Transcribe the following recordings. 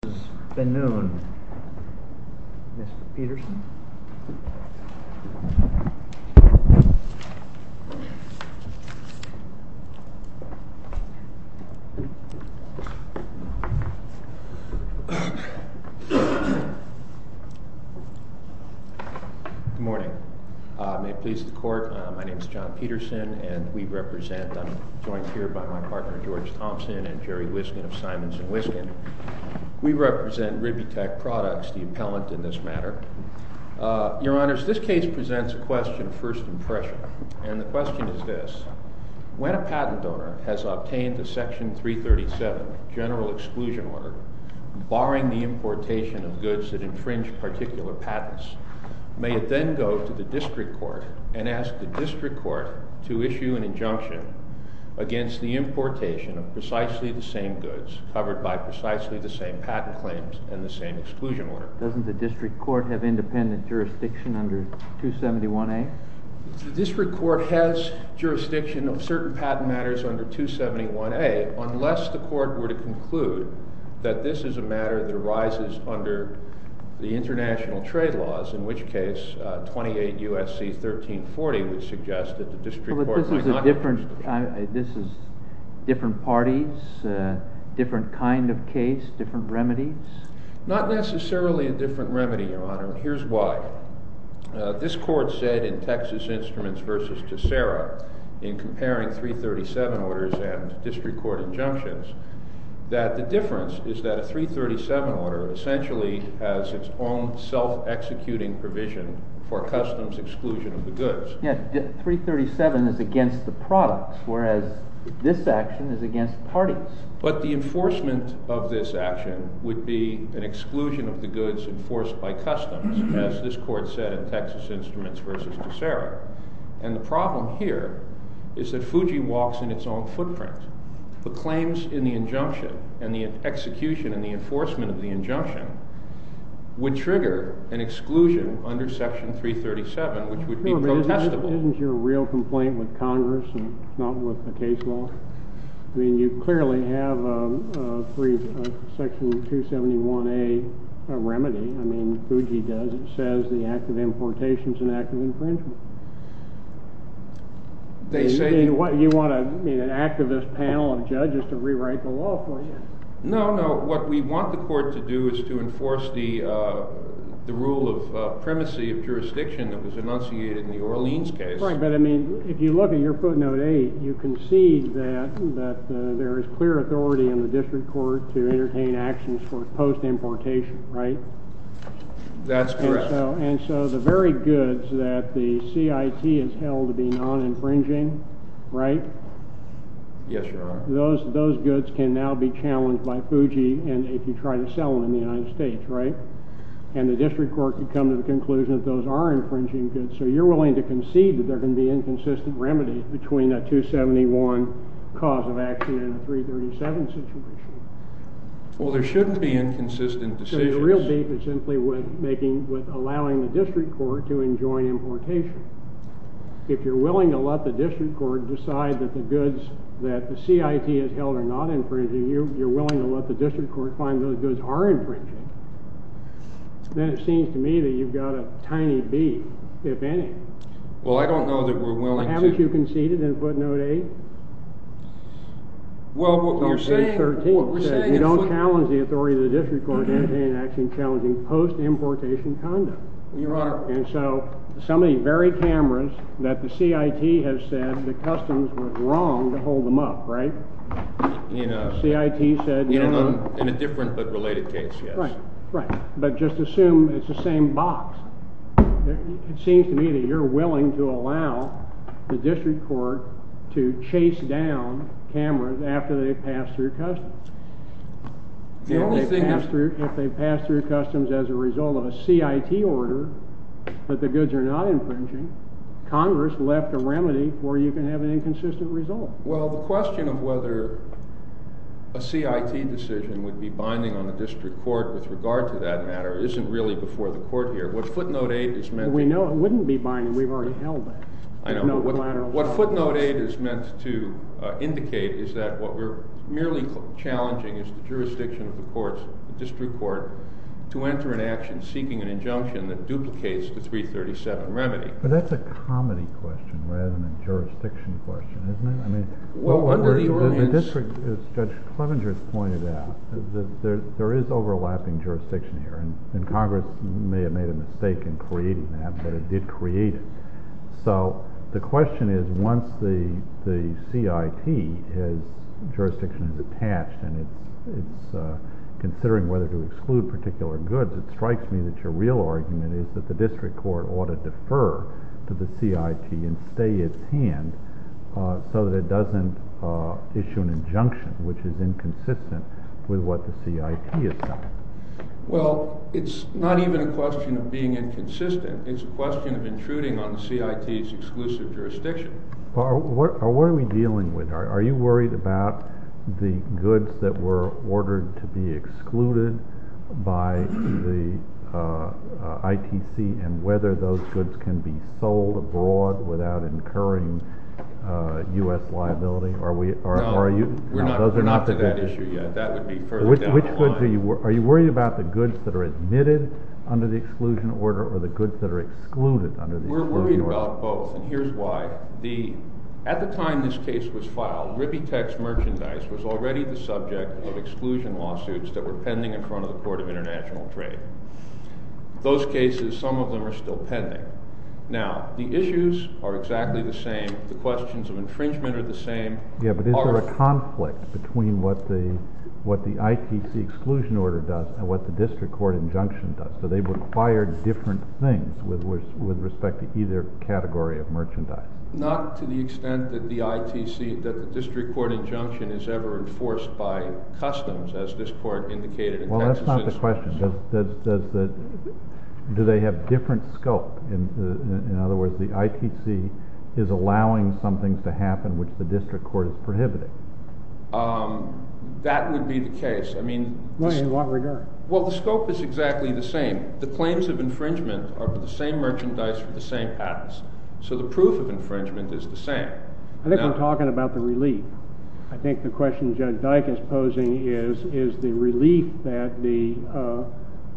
Good morning. May it please the court, my name is John Peterson and we represent, I'm joined here by my partner George Thompson and Jerry Wiskin of Simons & Wiskin. We are representing Ribitech Products, the appellant in this matter. Your honors, this case presents a question of first impression and the question is this. When a patent owner has obtained a section 337 general exclusion order barring the importation of goods that infringe particular patents, may it then go to the district court and ask the district court to issue an injunction against the importation of precisely the same goods covered by precisely the same patent claims and the same exclusion order? Doesn't the district court have independent jurisdiction under 271A? The district court has jurisdiction of certain patent matters under 271A unless the court were to conclude that this is a matter that arises under the international jurisdiction. This is different parties, different kind of case, different remedies? Not necessarily a different remedy, your honor. Here's why. This court said in Texas Instruments v. Tessera in comparing 337 orders and district court injunctions that the difference is that a 337 order essentially has its own self-executing provision for customs exclusion of the goods. Yes, 337 is against the products whereas this action is against parties. But the enforcement of this action would be an exclusion of the goods enforced by customs as this court said in Texas Instruments v. Tessera. And the problem here is that Fuji walks in its own footprint. The claims in the injunction and the execution and the enforcement of the injunction would trigger an exclusion under section 337 which would be protestable. Isn't your real complaint with Congress and not with the case law? I mean, you clearly have a section 271A remedy. I mean, Fuji does. It says the act of importation is an act of infringement. You want an activist panel of judges to rewrite the law for you? No, no. What we want the court to do is to enforce the rule of primacy of jurisdiction that was enunciated in the Orleans case. Right, but I mean, if you look at your footnote 8, you can see that there is clear authority in the district court to entertain actions for post-importation, right? That's correct. And so the very goods that the CIT has held to be non-infringing, right? Yes, Your Honor. Those goods can now be challenged by Fuji and if you try to sell them in the United States, right? And the district court can come to the conclusion that those are infringing goods. So you're willing to concede that there can be inconsistent remedies between a 271 cause of action and a 337 situation? Well, there shouldn't be inconsistent decisions. So your real beef is simply with making, with your willing to let the district court decide that the goods that the CIT has held are not infringing, you're willing to let the district court find those goods are infringing. Then it seems to me that you've got a tiny beef, if any. Well, I don't know that we're willing to. Haven't you conceded in footnote 8? Well, what we're saying is that you don't challenge the authority of the district court to entertain an action challenging post-importation conduct. Your Honor. And so some of the very cameras that the CIT has said the customs were wrong to hold them up, right? CIT said no. In a different but related case, yes. Right. But just assume it's the same box. It seems to me that you're willing to allow the district court to chase down cameras after they've passed through customs. If they've passed through customs as a result of a CIT order that the goods are not infringing, Congress left a remedy where you can have an inconsistent result. Well, the question of whether a CIT decision would be binding on the district court with regard to that matter isn't really before the court here. What footnote 8 is meant to... We know it wouldn't be binding. We've already held that. I know. No collateral. What footnote 8 is meant to indicate is that what we're merely challenging is the jurisdiction of the courts, the district court, to enter an action seeking an injunction that duplicates the 337 remedy. But that's a comedy question rather than a jurisdiction question, isn't it? I mean, the district, as Judge Clevenger has pointed out, there is overlapping jurisdiction here. And Congress may have made a mistake in creating that, but it did create it. So the question is once the CIT jurisdiction is attached and it's considering whether to exclude particular goods, it strikes me that your real argument is that the district court ought to defer to the CIT and stay its hand so that it doesn't issue an injunction which is inconsistent with what the CIT has done. Well, it's not even a question of being inconsistent. It's a question of intruding on the CIT's exclusive jurisdiction. Well, what are we dealing with? Are you worried about the goods that were ordered to be excluded by the ITC and whether those goods can be sold abroad without incurring U.S. liability? No, we're not to that issue yet. That would be further from the issue. We're worried about the goods that are admitted under the exclusion order or the goods that are excluded under the exclusion order. We're worried about both, and here's why. At the time this case was filed, Rippy Tech's merchandise was already the subject of exclusion lawsuits that were pending in front of the Court of International Trade. Those cases, some of them are still pending. Now, the issues are exactly the same. The questions of infringement are the same. Yeah, but is there a conflict between what the ITC exclusion order does and what the district court injunction does? So they require different things with respect to either category of merchandise. Not to the extent that the ITC, that the district court injunction is ever enforced by customs as this court indicated in Texas. Well, that's not the question. Do they have different scope? In other words, the ITC is allowing something to happen which the district court is prohibiting. That would be the case. Well, in what regard? Well, the scope is exactly the same. The claims of infringement are the same merchandise with the same patents. So the proof of infringement is the same. I think we're talking about the relief. I think the question Judge Dyck is posing is, is the relief that the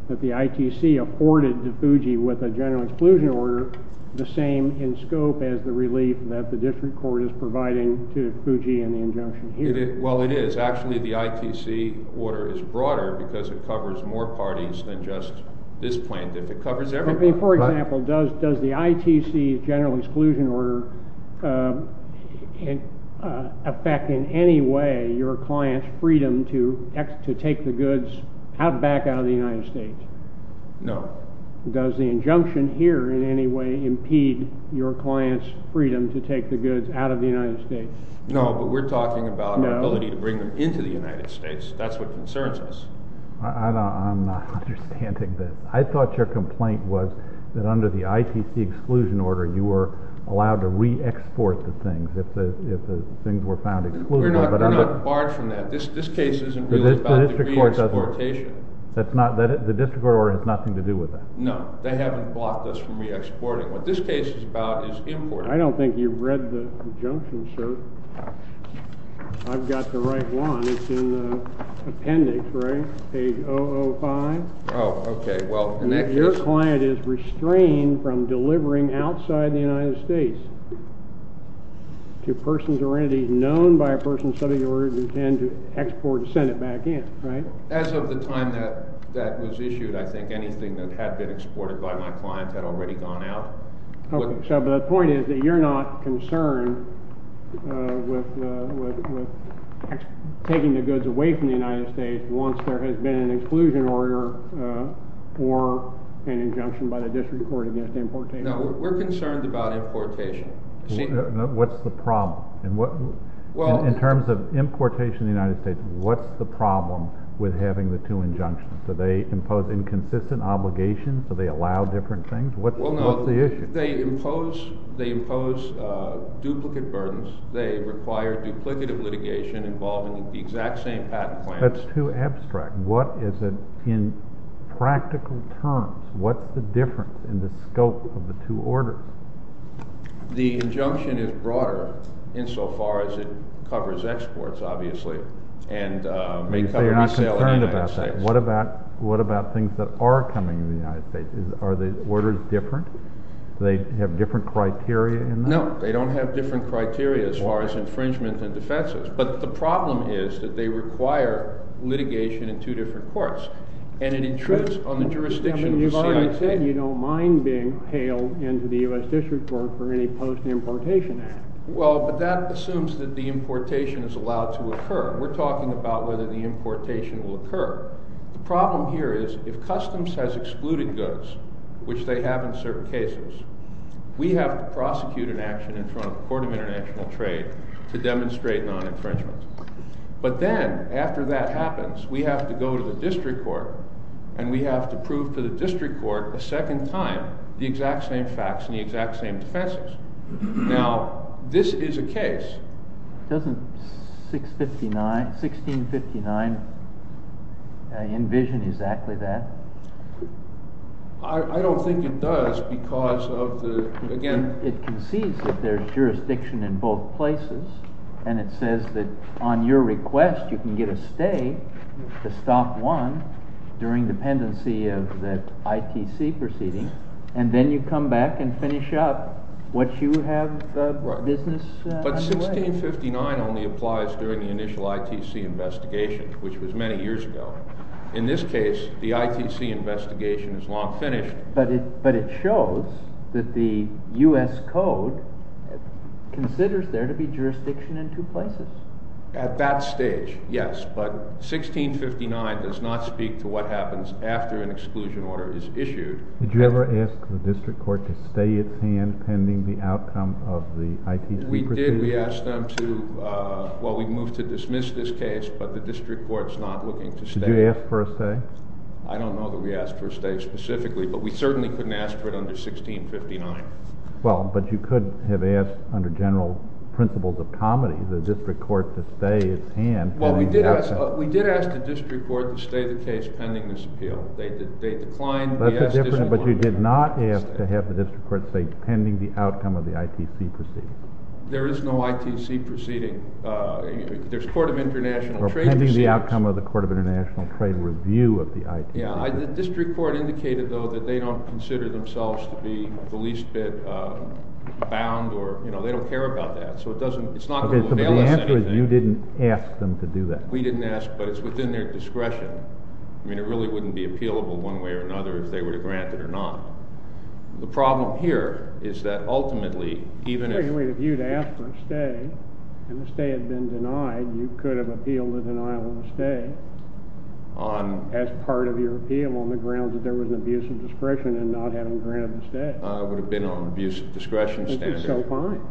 ITC afforded to Fuji with a general exclusion order the same in scope as the relief that the district court is providing to Fuji in the injunction here? Well, it is. Actually, the ITC order is broader because it covers more parties than just this plaintiff. It covers everyone. For example, does the ITC general exclusion order affect in any way your client's freedom to take the goods back out of the United States? No. Does the injunction here in any way impede your client's freedom to take the goods out of the United States? No, but we're talking about the ability to bring them into the United States. That's what concerns us. I'm not understanding this. I thought your complaint was that under the ITC exclusion order you were allowed to re-export the things if the things were found exclusive. We're not barred from that. This case isn't really about the re-exportation. The district court order has nothing to do with that? No. They haven't blocked us from re-exporting. What this case is about is import. I don't think you've read the injunction, sir. I've got the right one. It's in the appendix, right? Page 005? Oh, okay. Well, in that case... Your client is restrained from delivering outside the United States to persons or entities known by a person subject to the order who intend to export and send it back in, right? As of the time that that was issued, I think anything that had been exported by my client had already gone out. Okay. So the point is that you're not concerned with taking the goods away from the United States once there has been an exclusion order or an injunction by the district court against importation? No. We're concerned about importation. What's the problem? In terms of importation in the United States, what's the problem with having the two injunctions? Do they impose inconsistent obligations? Do they allow different things? What's the issue? Well, no. They impose duplicate burdens. They require duplicative litigation involving the exact same patent plans. That's too abstract. What is it in practical terms? What's the difference in the scope of the two orders? The injunction is broader insofar as it covers exports, obviously, and may cover resale in the United States. You say you're not concerned about that. What about things that are coming in the United States? Are the orders different? Do they have different criteria in that? No. They don't have different criteria as far as infringement and defenses. But the problem is that they require litigation in two different courts, and it intrudes on the jurisdiction of the CIT. You've already said you don't mind being allowed to occur. We're talking about whether the importation will occur. The problem here is if Customs has excluded goods, which they have in certain cases, we have to prosecute an action in front of the Court of International Trade to demonstrate non-infringement. But then, after that happens, we have to go to the district court, and we have to prove to the district court a second time the exact same facts and the exact same defenses. Now, this is a case. Doesn't 1659 envision exactly that? I don't think it does because of the, again... It concedes that there's jurisdiction in both places, and it says that on your request you can get a stay to stop one during dependency of the ITC proceeding, and then you come back and finish up what you have business underway. But 1659 only applies during the initial ITC investigation, which was many years ago. In this case, the ITC investigation is long finished. But it shows that the U.S. Code considers there to be jurisdiction in two places. At that stage, yes. But 1659 does not speak to what happens after an exclusion order is issued. Did you ever ask the district court to stay its hand pending the outcome of the ITC proceeding? We did. We asked them to... Well, we moved to dismiss this case, but the district court is not looking to stay. Did you ask for a stay? I don't know that we asked for a stay specifically, but we certainly couldn't ask for it under 1659. Well, but you could have asked, under general principles of comity, the district court to stay its hand... Well, we did ask the district court to stay the case pending this appeal. They declined. That's a different... But you did not ask to have the district court stay pending the outcome of the ITC proceeding. There is no ITC proceeding. There's court of international trade proceedings. Or pending the outcome of the court of international trade review of the ITC. Yeah. The district court indicated, though, that they don't consider themselves to be the least bit bound or, you know, they don't care about that. So it doesn't... It's not going to avail us anything. But the answer is you didn't ask them to do that. We didn't ask, but it's within their discretion. I mean, it really wouldn't be appealable one way or another if they were to grant it or not. The problem here is that ultimately, even if... I mean, if you'd asked for a stay and the stay had been denied, you could have appealed the denial of the stay... On... As part of your appeal on the grounds that there was an abuse of discretion in not having granted the stay. It would have been on an abuse of discretion standard. Which is still fine.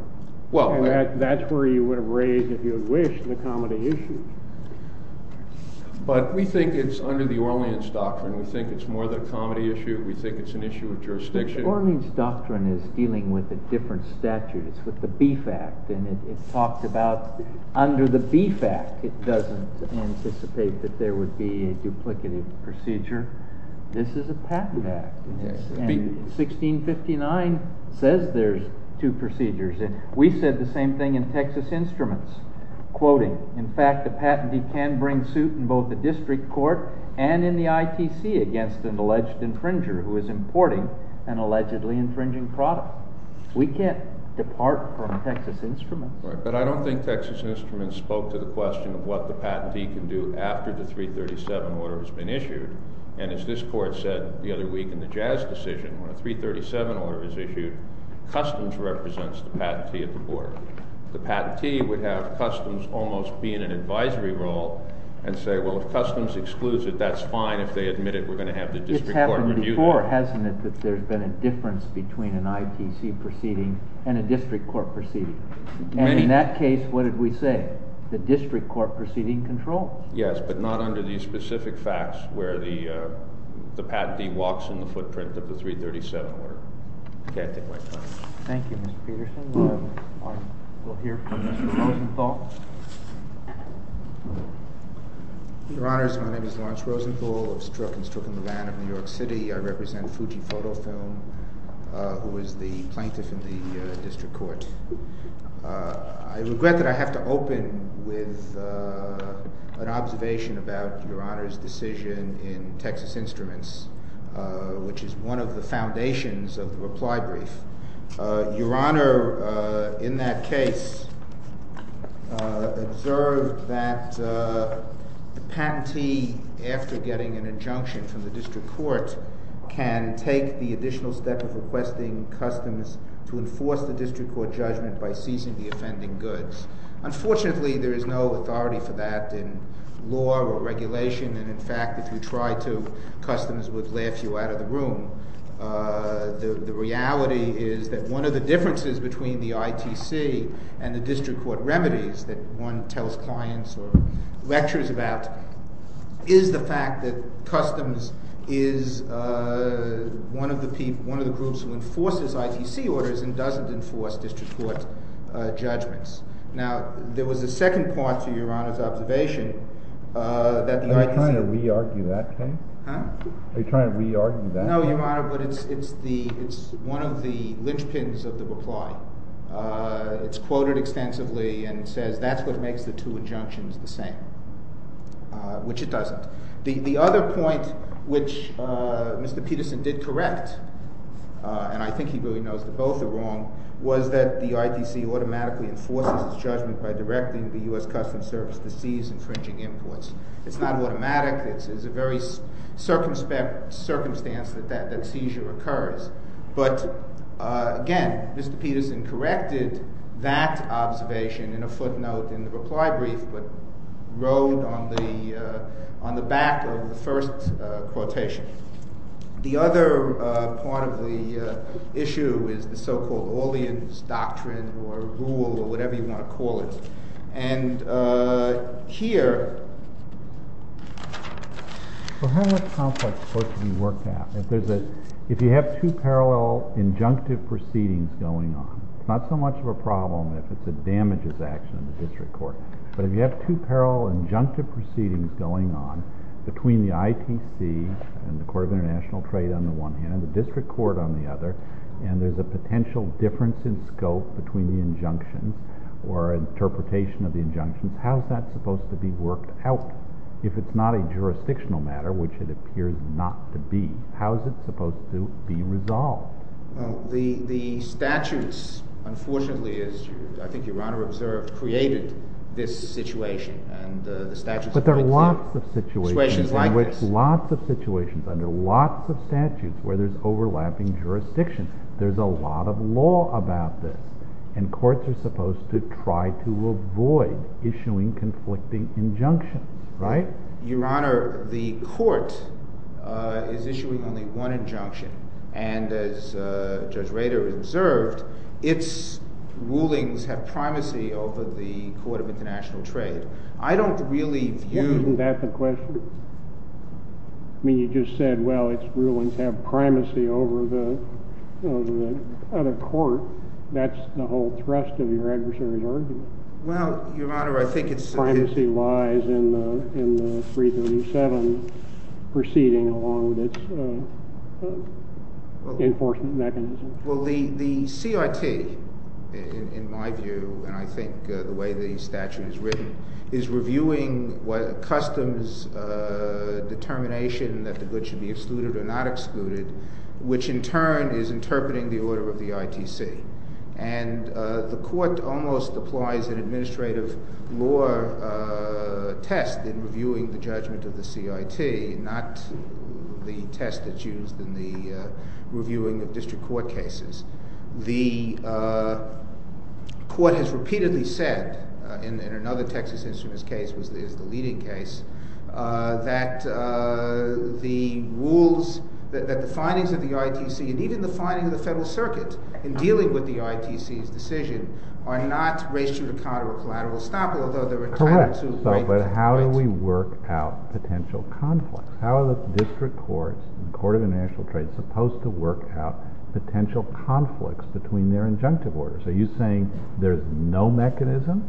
Well... And that's where you would have raised, if you wish, the comity issue. But we think it's under the Orleans Doctrine. We think it's more than a comity issue. We think it's an issue of jurisdiction. The Orleans Doctrine is dealing with a different statute. It's with the Beef Act. And it talks about under the Beef Act, it doesn't anticipate that there would be a duplicative procedure. This is a patent act. And 1659 says there's two procedures. And we said the same thing in Texas Instruments, quoting, in fact, the patentee can bring suit in both the district court and in the ITC against an alleged infringer who is importing an allegedly infringing product. We can't depart from Texas Instruments. Right. But I don't think Texas Instruments spoke to the question of what the patentee can do after the 337 order has been issued. And as this court said the other week in the The patentee would have customs almost be in an advisory role and say, well, if customs excludes it, that's fine. If they admit it, we're going to have the district court review it. It's happened before, hasn't it, that there's been a difference between an ITC proceeding and a district court proceeding? And in that case, what did we say? The district court proceeding controls. Yes, but not under these specific facts where the patentee walks in the footprint of the 337 order. I can't take my time. Thank you, Mr. Peterson. We'll hear from Mr. Rosenthal. Your Honors, my name is Lawrence Rosenthal of Strzok & Strzok & Levan of New York City. I represent Fuji Photo Film, who is the plaintiff in the district court. I regret that I have to open with an observation about Your Honors' decision in Texas Instruments, which is one of the foundations of the reply brief. Your Honor, in that case, observed that the patentee after getting an injunction from the district court can take the additional step of requesting customs to enforce the district court judgment by seizing the offending goods. Unfortunately, there is no authority for that in law or regulation. And in fact, if you try to, customers would laugh you out of the room. The reality is that one of the differences between the ITC and the district court remedies that one tells clients or lectures about is the fact that customs is one of the groups who enforces ITC orders and doesn't enforce district court judgments. Now, there was a second part to Your Honor's observation that the ITC— Are you trying to re-argue that case? No, Your Honor, but it's one of the linchpins of the reply. It's quoted extensively and says that's what makes the two injunctions the same, which it doesn't. The other point which Mr. Peterson did correct, and I think he really knows that both are wrong, was that the ITC automatically enforces its judgment by directing the U.S. Customs Service to seize goods. And that's the circumstance that seizure occurs. But again, Mr. Peterson corrected that observation in a footnote in the reply brief but wrote on the back of the first quotation. The other part of the issue is the so-called Orleans doctrine or rule or whatever you want to call it. And here— How is that conflict supposed to be worked out? If you have two parallel injunctive proceedings going on—it's not so much of a problem if it's a damages action of the district court—but if you have two parallel injunctive proceedings going on between the ITC and the Court of International Trade on the one hand and the district court on the other, and there's a potential difference in scope between the injunctions or interpretation of the injunctions, how is that supposed to be worked out? If it's not a jurisdictional matter, which it appears not to be, how is it supposed to be resolved? The statutes, unfortunately, as I think Your Honor observed, created this situation. But there are lots of situations— Situations like this. Lots of situations under lots of statutes where there's overlapping jurisdiction. There's a lot of law about this. And courts are supposed to try to avoid issuing conflicting injunctions, right? Your Honor, the court is issuing only one injunction. And as Judge Rader observed, its rulings have primacy over the Court of International Trade. I don't really view— Isn't that the question? I mean, you just said, well, its rulings have primacy over the other court. That's the whole thrust of your adversary's argument. Well, Your Honor, I think it's— Primacy lies in the 337 proceeding along with its enforcement mechanism. Well, the CRT, in my view, and I think the way the statute is written, is reviewing customs determination that the goods should be excluded or not excluded, which in turn is interpreting the order of the ITC. And the court almost applies an administrative law test in reviewing the judgment of the CRT, not the test that's used in the reviewing of district court cases. The court has repeatedly said, in another Texas Instruments case, which is the leading case, that the rules, that the findings of the ITC, and even the findings of the Federal Circuit in dealing with the ITC's decision, are not ratioed to counter a collateral estoppel, although they're entitled to— Correct. But how do we work out potential conflict? How are the district courts and their injunctive orders? Are you saying there's no mechanism?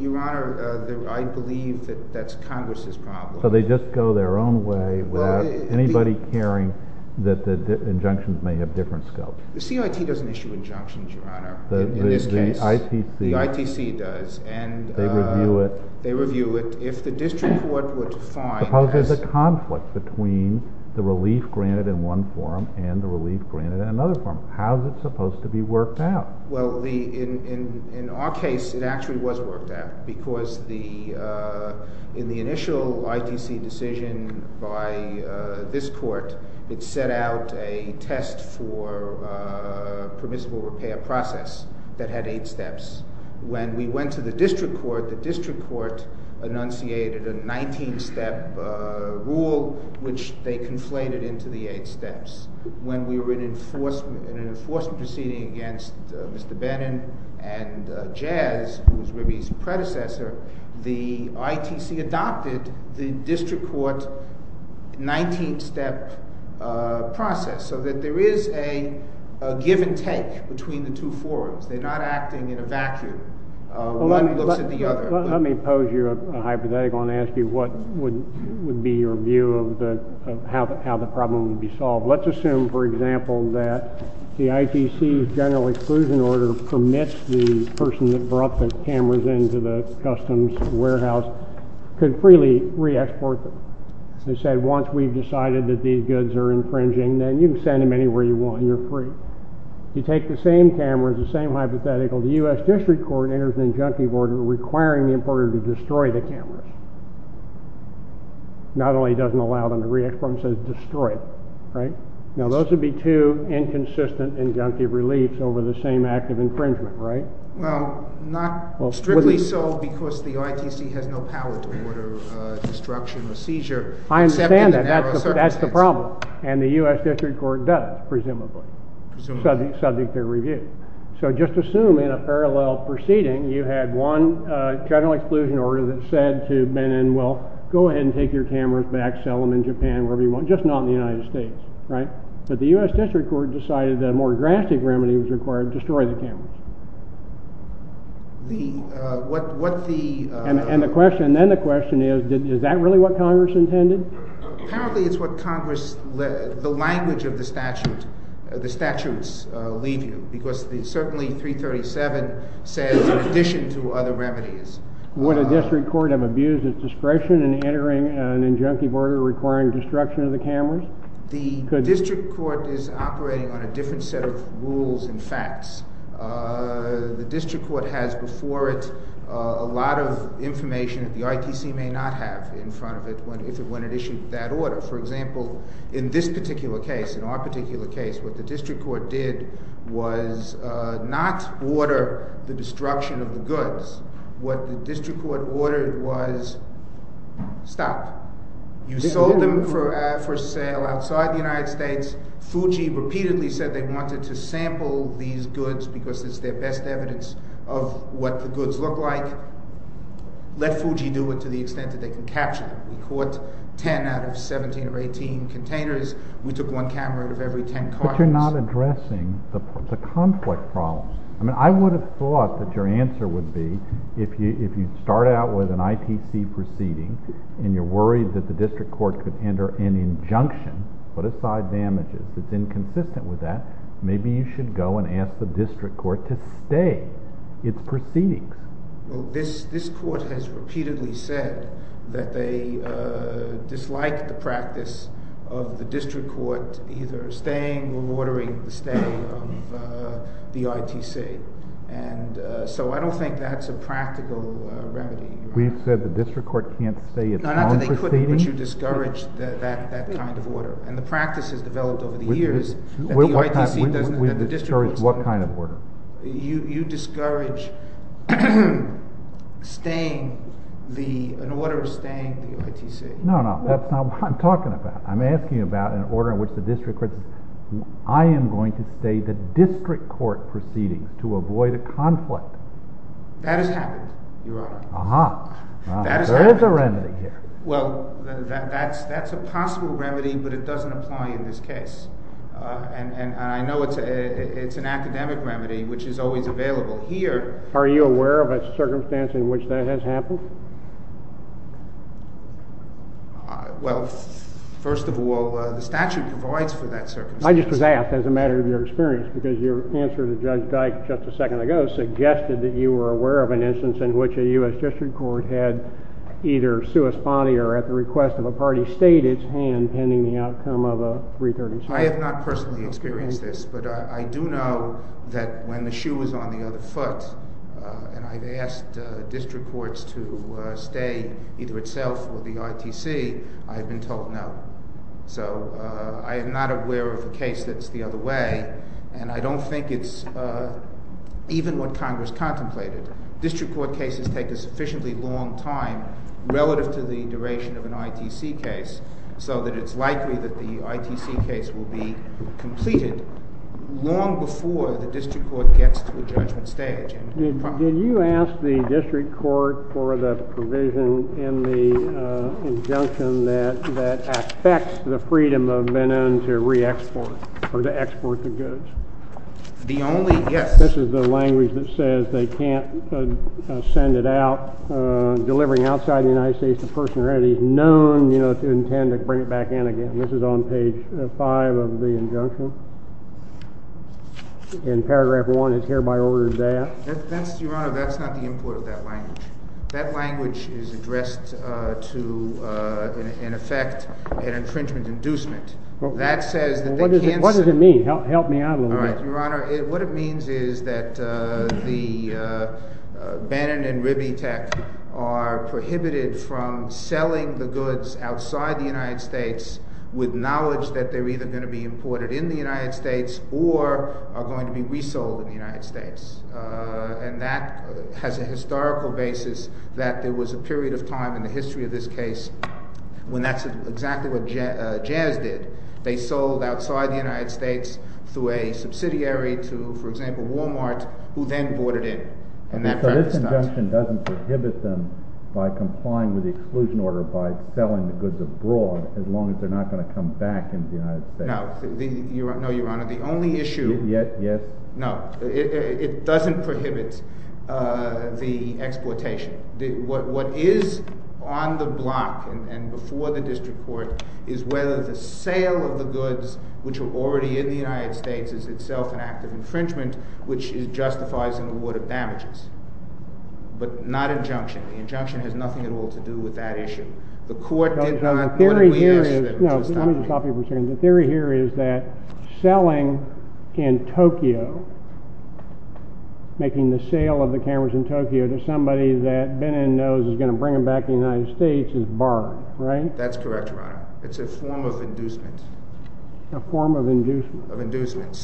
Your Honor, I believe that that's Congress's problem. So they just go their own way without anybody caring that the injunctions may have different scopes? The CRT doesn't issue injunctions, Your Honor, in this case. The ITC— The ITC does, and— They review it. They review it. If the district court would find— Suppose there's a conflict between the relief granted in one forum and the relief granted in another forum. How is it supposed to be worked out? Well, in our case, it actually was worked out, because in the initial ITC decision by this court, it set out a test for permissible repair process that had eight steps. When we went to the district court, the district court enunciated a 19-step rule, which they adopted in an enforcement proceeding against Mr. Bannon and Jazz, who was Ribby's predecessor. The ITC adopted the district court 19-step process, so that there is a give and take between the two forums. They're not acting in a vacuum. One looks at the other. Let me pose you a hypothetical and ask you what would be your view of how the problem would be solved. Let's assume, for example, that the ITC's general exclusion order permits the person that brought the cameras into the customs warehouse could freely re-export them. They said, once we've decided that these goods are infringing, then you can send them anywhere you want, and you're free. You take the same cameras, the same hypothetical. The U.S. district court enters an injunctive order requiring the importer to destroy the Now, those would be two inconsistent injunctive reliefs over the same act of infringement, right? Well, not strictly so, because the ITC has no power to order destruction or seizure. I understand that. That's the problem. And the U.S. district court does, presumably, subject to review. So just assume in a parallel proceeding, you had one general exclusion order that said to Bannon, well, go ahead and take your cameras back, sell them in Japan, wherever you want, just not in the United States, right? But the U.S. district court decided that a more drastic remedy was required to destroy the cameras. And then the question is, is that really what Congress intended? Apparently, it's what Congress, the language of the statute, the statutes leave you, because certainly 337 says, in addition to other remedies. Would a district court have abused its discretion in entering an injunctive order requiring destruction of the cameras? The district court is operating on a different set of rules and facts. The district court has before it a lot of information that the ITC may not have in front of it when it issued that order. For example, in this particular case, in our particular case, what the district court did was not order the destruction of the goods. What the district court ordered was, stop. You sold them for sale outside the United States. Fuji repeatedly said they wanted to sample these goods because it's their best evidence of what the goods look like. Let Fuji do it to the extent that they can capture them. We caught 10 out of 17 or 18 containers. We took one camera out of every 10 cars. But you're not addressing the conflict problems. I would have thought that your answer would be, if you start out with an ITC proceeding and you're worried that the district court could enter an injunction, put aside damages, that's inconsistent with that, maybe you should go and ask the district court to stay its proceedings. This court has repeatedly said that they dislike the practice of the district court either staying or ordering the stay of the ITC. So I don't think that's a practical remedy. We've said the district court can't stay its own proceedings. Not that they couldn't, but you discouraged that kind of order. And the practice has developed over the years. We discourage what kind of order? You discourage an order of staying the ITC. No, no, that's not what I'm talking about. I'm asking about an order in which the district court says, I am going to stay the district court proceedings to avoid a conflict. That has happened, Your Honor. Uh-huh. That has happened. There is a remedy here. Well, that's a possible remedy, but it doesn't apply in this case. And I know it's an academic remedy, which is always available here. Are you aware of a circumstance in which that has happened? Well, first of all, the statute provides for that circumstance. I just was asked as a matter of your experience, because your answer to Judge Dyke just a second ago suggested that you were aware of an instance in which a U.S. district court had either sua sponte or at the request of a party, stayed its hand pending the outcome of a 336. I have not personally experienced this, but I do know that when the shoe was on the other foot, and I've asked district courts to stay either itself or the ITC, I've been told no. So I am not aware of a case that's the other way, and I don't think it's even what Congress contemplated. District court cases take a sufficiently long time relative to the duration of an ITC case, so that it's likely that the ITC case will be completed long before the district court gets to the judgment stage. Did you ask the district court for the provision in the injunction that affects the freedom of men to re-export or to export the goods? The only, yes. This is the language that says they can't send it out. Delivering outside the United States, the person already known to intend to bring it back in again. This is on page 5 of the injunction. In paragraph 1, it's hereby ordered that. Your Honor, that's not the import of that language. That language is addressed to, in effect, an infringement inducement. What does it mean? Help me out a little bit. Your Honor, what it means is that Bannon and Ribbitech are prohibited from selling the goods outside the United States with knowledge that they're either going to be imported in the United States or are going to be resold in the United States. And that has a historical basis that there was a period of time in the history of this case when that's exactly what Jazz did. They sold outside the United States through a subsidiary to, for example, Walmart, who then brought it in. So this injunction doesn't prohibit them by complying with the exclusion order by selling the goods abroad as long as they're not going to come back into the United States. No, Your Honor, the only issue... Yes, yes. No, it doesn't prohibit the exploitation. What is on the block and before the district court is whether the sale of the goods which are already in the United States is itself an act of infringement, which justifies an award of damages. But not injunction. The injunction has nothing at all to do with that issue. The court did not... The theory here is... No, let me just stop you for a second. The theory here is that selling in Tokyo, making the sale of the cameras in Tokyo to somebody that Bannon knows is going to bring them back to the United States is barred, right? That's correct, Your Honor. It's a form of inducement. A form of inducement. Of inducement.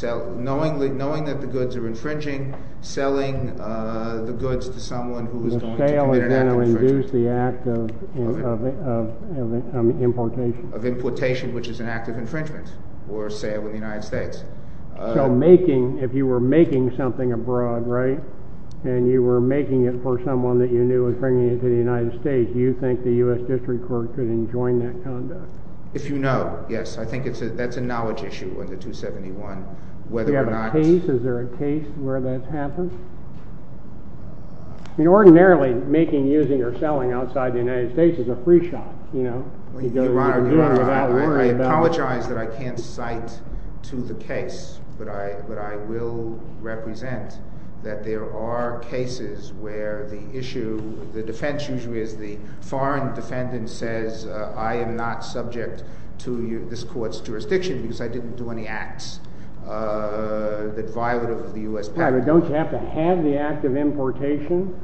Knowing that the goods are infringing, selling the goods to someone who is going to commit an act of infringement. The sale is going to induce the act of importation. Of importation, which is an act of infringement or sale in the United States. So making, if you were making something abroad, right, and you were making it for someone that you knew and bringing it to the United States, do you think the U.S. District Court could enjoin that conduct? If you know, yes. I think that's a knowledge issue with the 271, whether or not it's... Do you have a case? Is there a case where that's happened? I mean, ordinarily, making, using, or selling outside the United States is a free shot, you know? Your Honor, I apologize that I can't cite to the case, but I will represent that there are cases where the issue, the defense usually is the foreign defendant says, I am not subject to this court's jurisdiction because I didn't do any acts that violate the U.S. patent. Right, but don't you have to have the act of importation?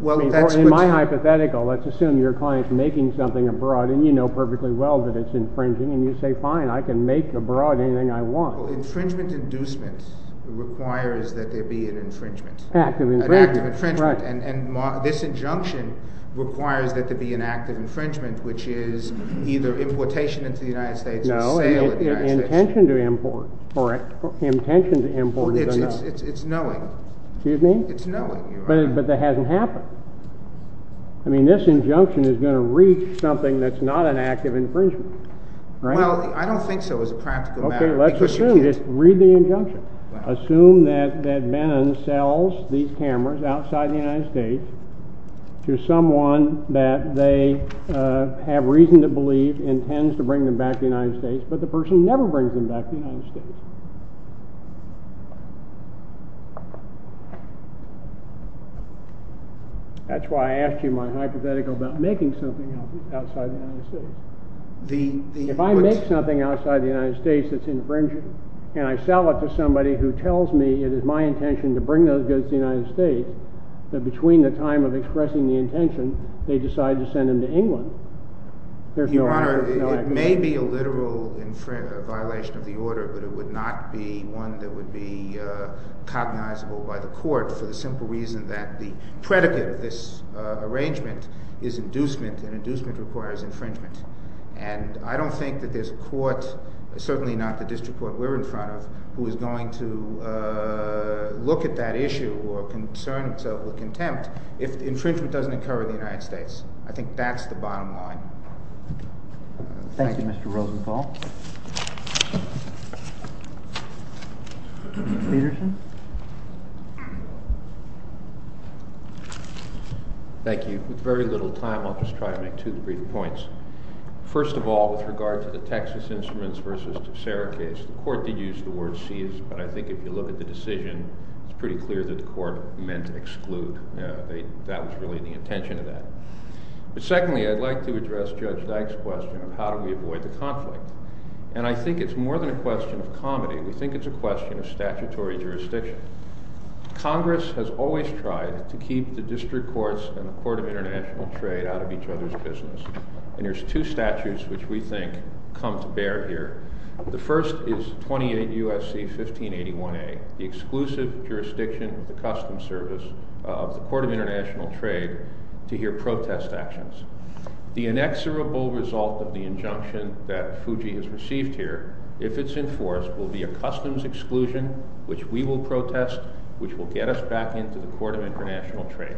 Well, that's... In my hypothetical, let's assume your client's making something abroad and you know perfectly well that it's infringing, and you say, fine, I can make abroad anything I want. Well, infringement inducement requires that there be an infringement. An act of infringement. An act of infringement. And this injunction requires that there be an act of infringement, which is either importation into the United States or sale in the United States. No, intention to import. Correct. Intention to import is unknown. Well, it's knowing. Excuse me? It's knowing, Your Honor. But that hasn't happened. I mean, this injunction is going to reach something that's not an act of infringement. Well, I don't think so as a practical matter. Okay, let's assume. Just read the injunction. Assume that Bannon sells these cameras outside the United States to someone that they have reason to believe intends to bring them back to the United States, but the person never brings them back to the United States. That's why I asked you my hypothetical about making something outside the United States. If I make something outside the United States that's infringing and I sell it to somebody who tells me it is my intention to bring those goods to the United States, that between the time of expressing the intention, they decide to send them to England. Your Honor, it may be a literal violation of the order, but it would not be one that would be cognizable by the court for the simple reason that the predicate of this arrangement is inducement, and inducement requires infringement. And I don't think that there's a court, certainly not the district court we're in front of, who is going to look at that issue or concern itself with contempt if infringement doesn't occur in the United States. I think that's the bottom line. Thank you, Mr. Rosenthal. Mr. Peterson? Thank you. With very little time, I'll just try to make two or three points. First of all, with regard to the Texas Instruments v. Tosera case, the court did use the word seize, but I think if you look at the decision, it's pretty clear that the court meant exclude. That was really the intention of that. But secondly, I'd like to address Judge Dyke's question of how do we avoid the conflict. And I think it's more than a question of comedy. We think it's a question of statutory jurisdiction. Congress has always tried to keep the district courts and the Court of International Trade out of each other's business. And there's two statutes which we think come to bear here. The first is 28 U.S.C. 1581a, the exclusive jurisdiction of the Customs Service of the Court of International Trade to hear protest actions. The inexorable result of the injunction that Fuji has received here, if it's enforced, will be a customs exclusion which we will protest, which will get us back into the Court of International Trade.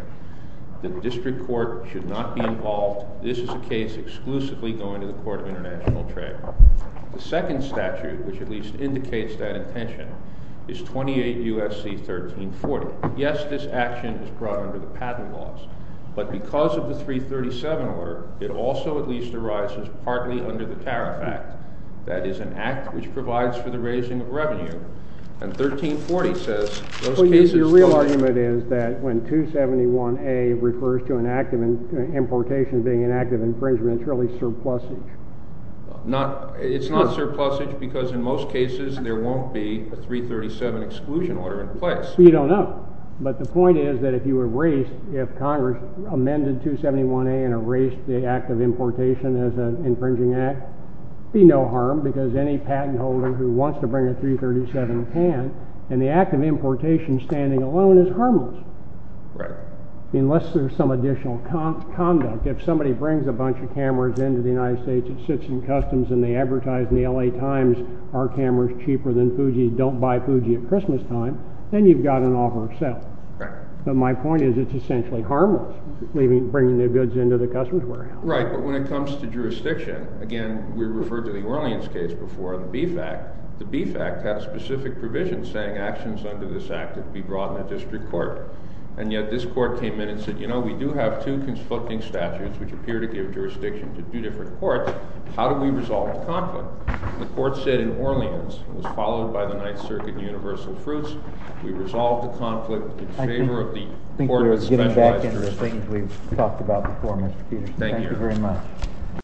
The district court should not be involved. This is a case exclusively going to the Court of International Trade. The second statute, which at least indicates that intention, is 28 U.S.C. 1340. Yes, this action is brought under the patent laws. But because of the 337 order, it also at least arises partly under the Tariff Act. That is an act which provides for the raising of revenue. And 1340 says those cases don't exist. So your real argument is that when 271a refers to an act of importation being an act of infringement, it's really surplusage. It's not surplusage because in most cases there won't be a 337 exclusion order in place. You don't know. But the point is that if you erase, if Congress amended 271a and erased the act of importation as an infringing act, it would be no harm because any patent holder who wants to bring a 337 can, and the act of importation standing alone is harmless. Right. Unless there's some additional conduct. If somebody brings a bunch of cameras into the United States, it sits in customs, and they advertise in the L.A. Times, our camera is cheaper than Fuji, don't buy Fuji at Christmastime, then you've got an offer of sale. Right. But my point is it's essentially harmless, bringing the goods into the customs warehouse. Right. But when it comes to jurisdiction, again, we referred to the Orleans case before, the Beef Act. The Beef Act has specific provisions saying actions under this act that be brought in a district court, and yet this court came in and said, you know, we do have two conflicting statutes, which appear to give jurisdiction to two different courts, how do we resolve the conflict? The court said in Orleans, it was followed by the Ninth Circuit and Universal Fruits, we resolved the conflict in favor of the court that specialized jurisdiction. I think we're getting back into the things we've talked about before, Mr. Peterson. Thank you. Thank you very much.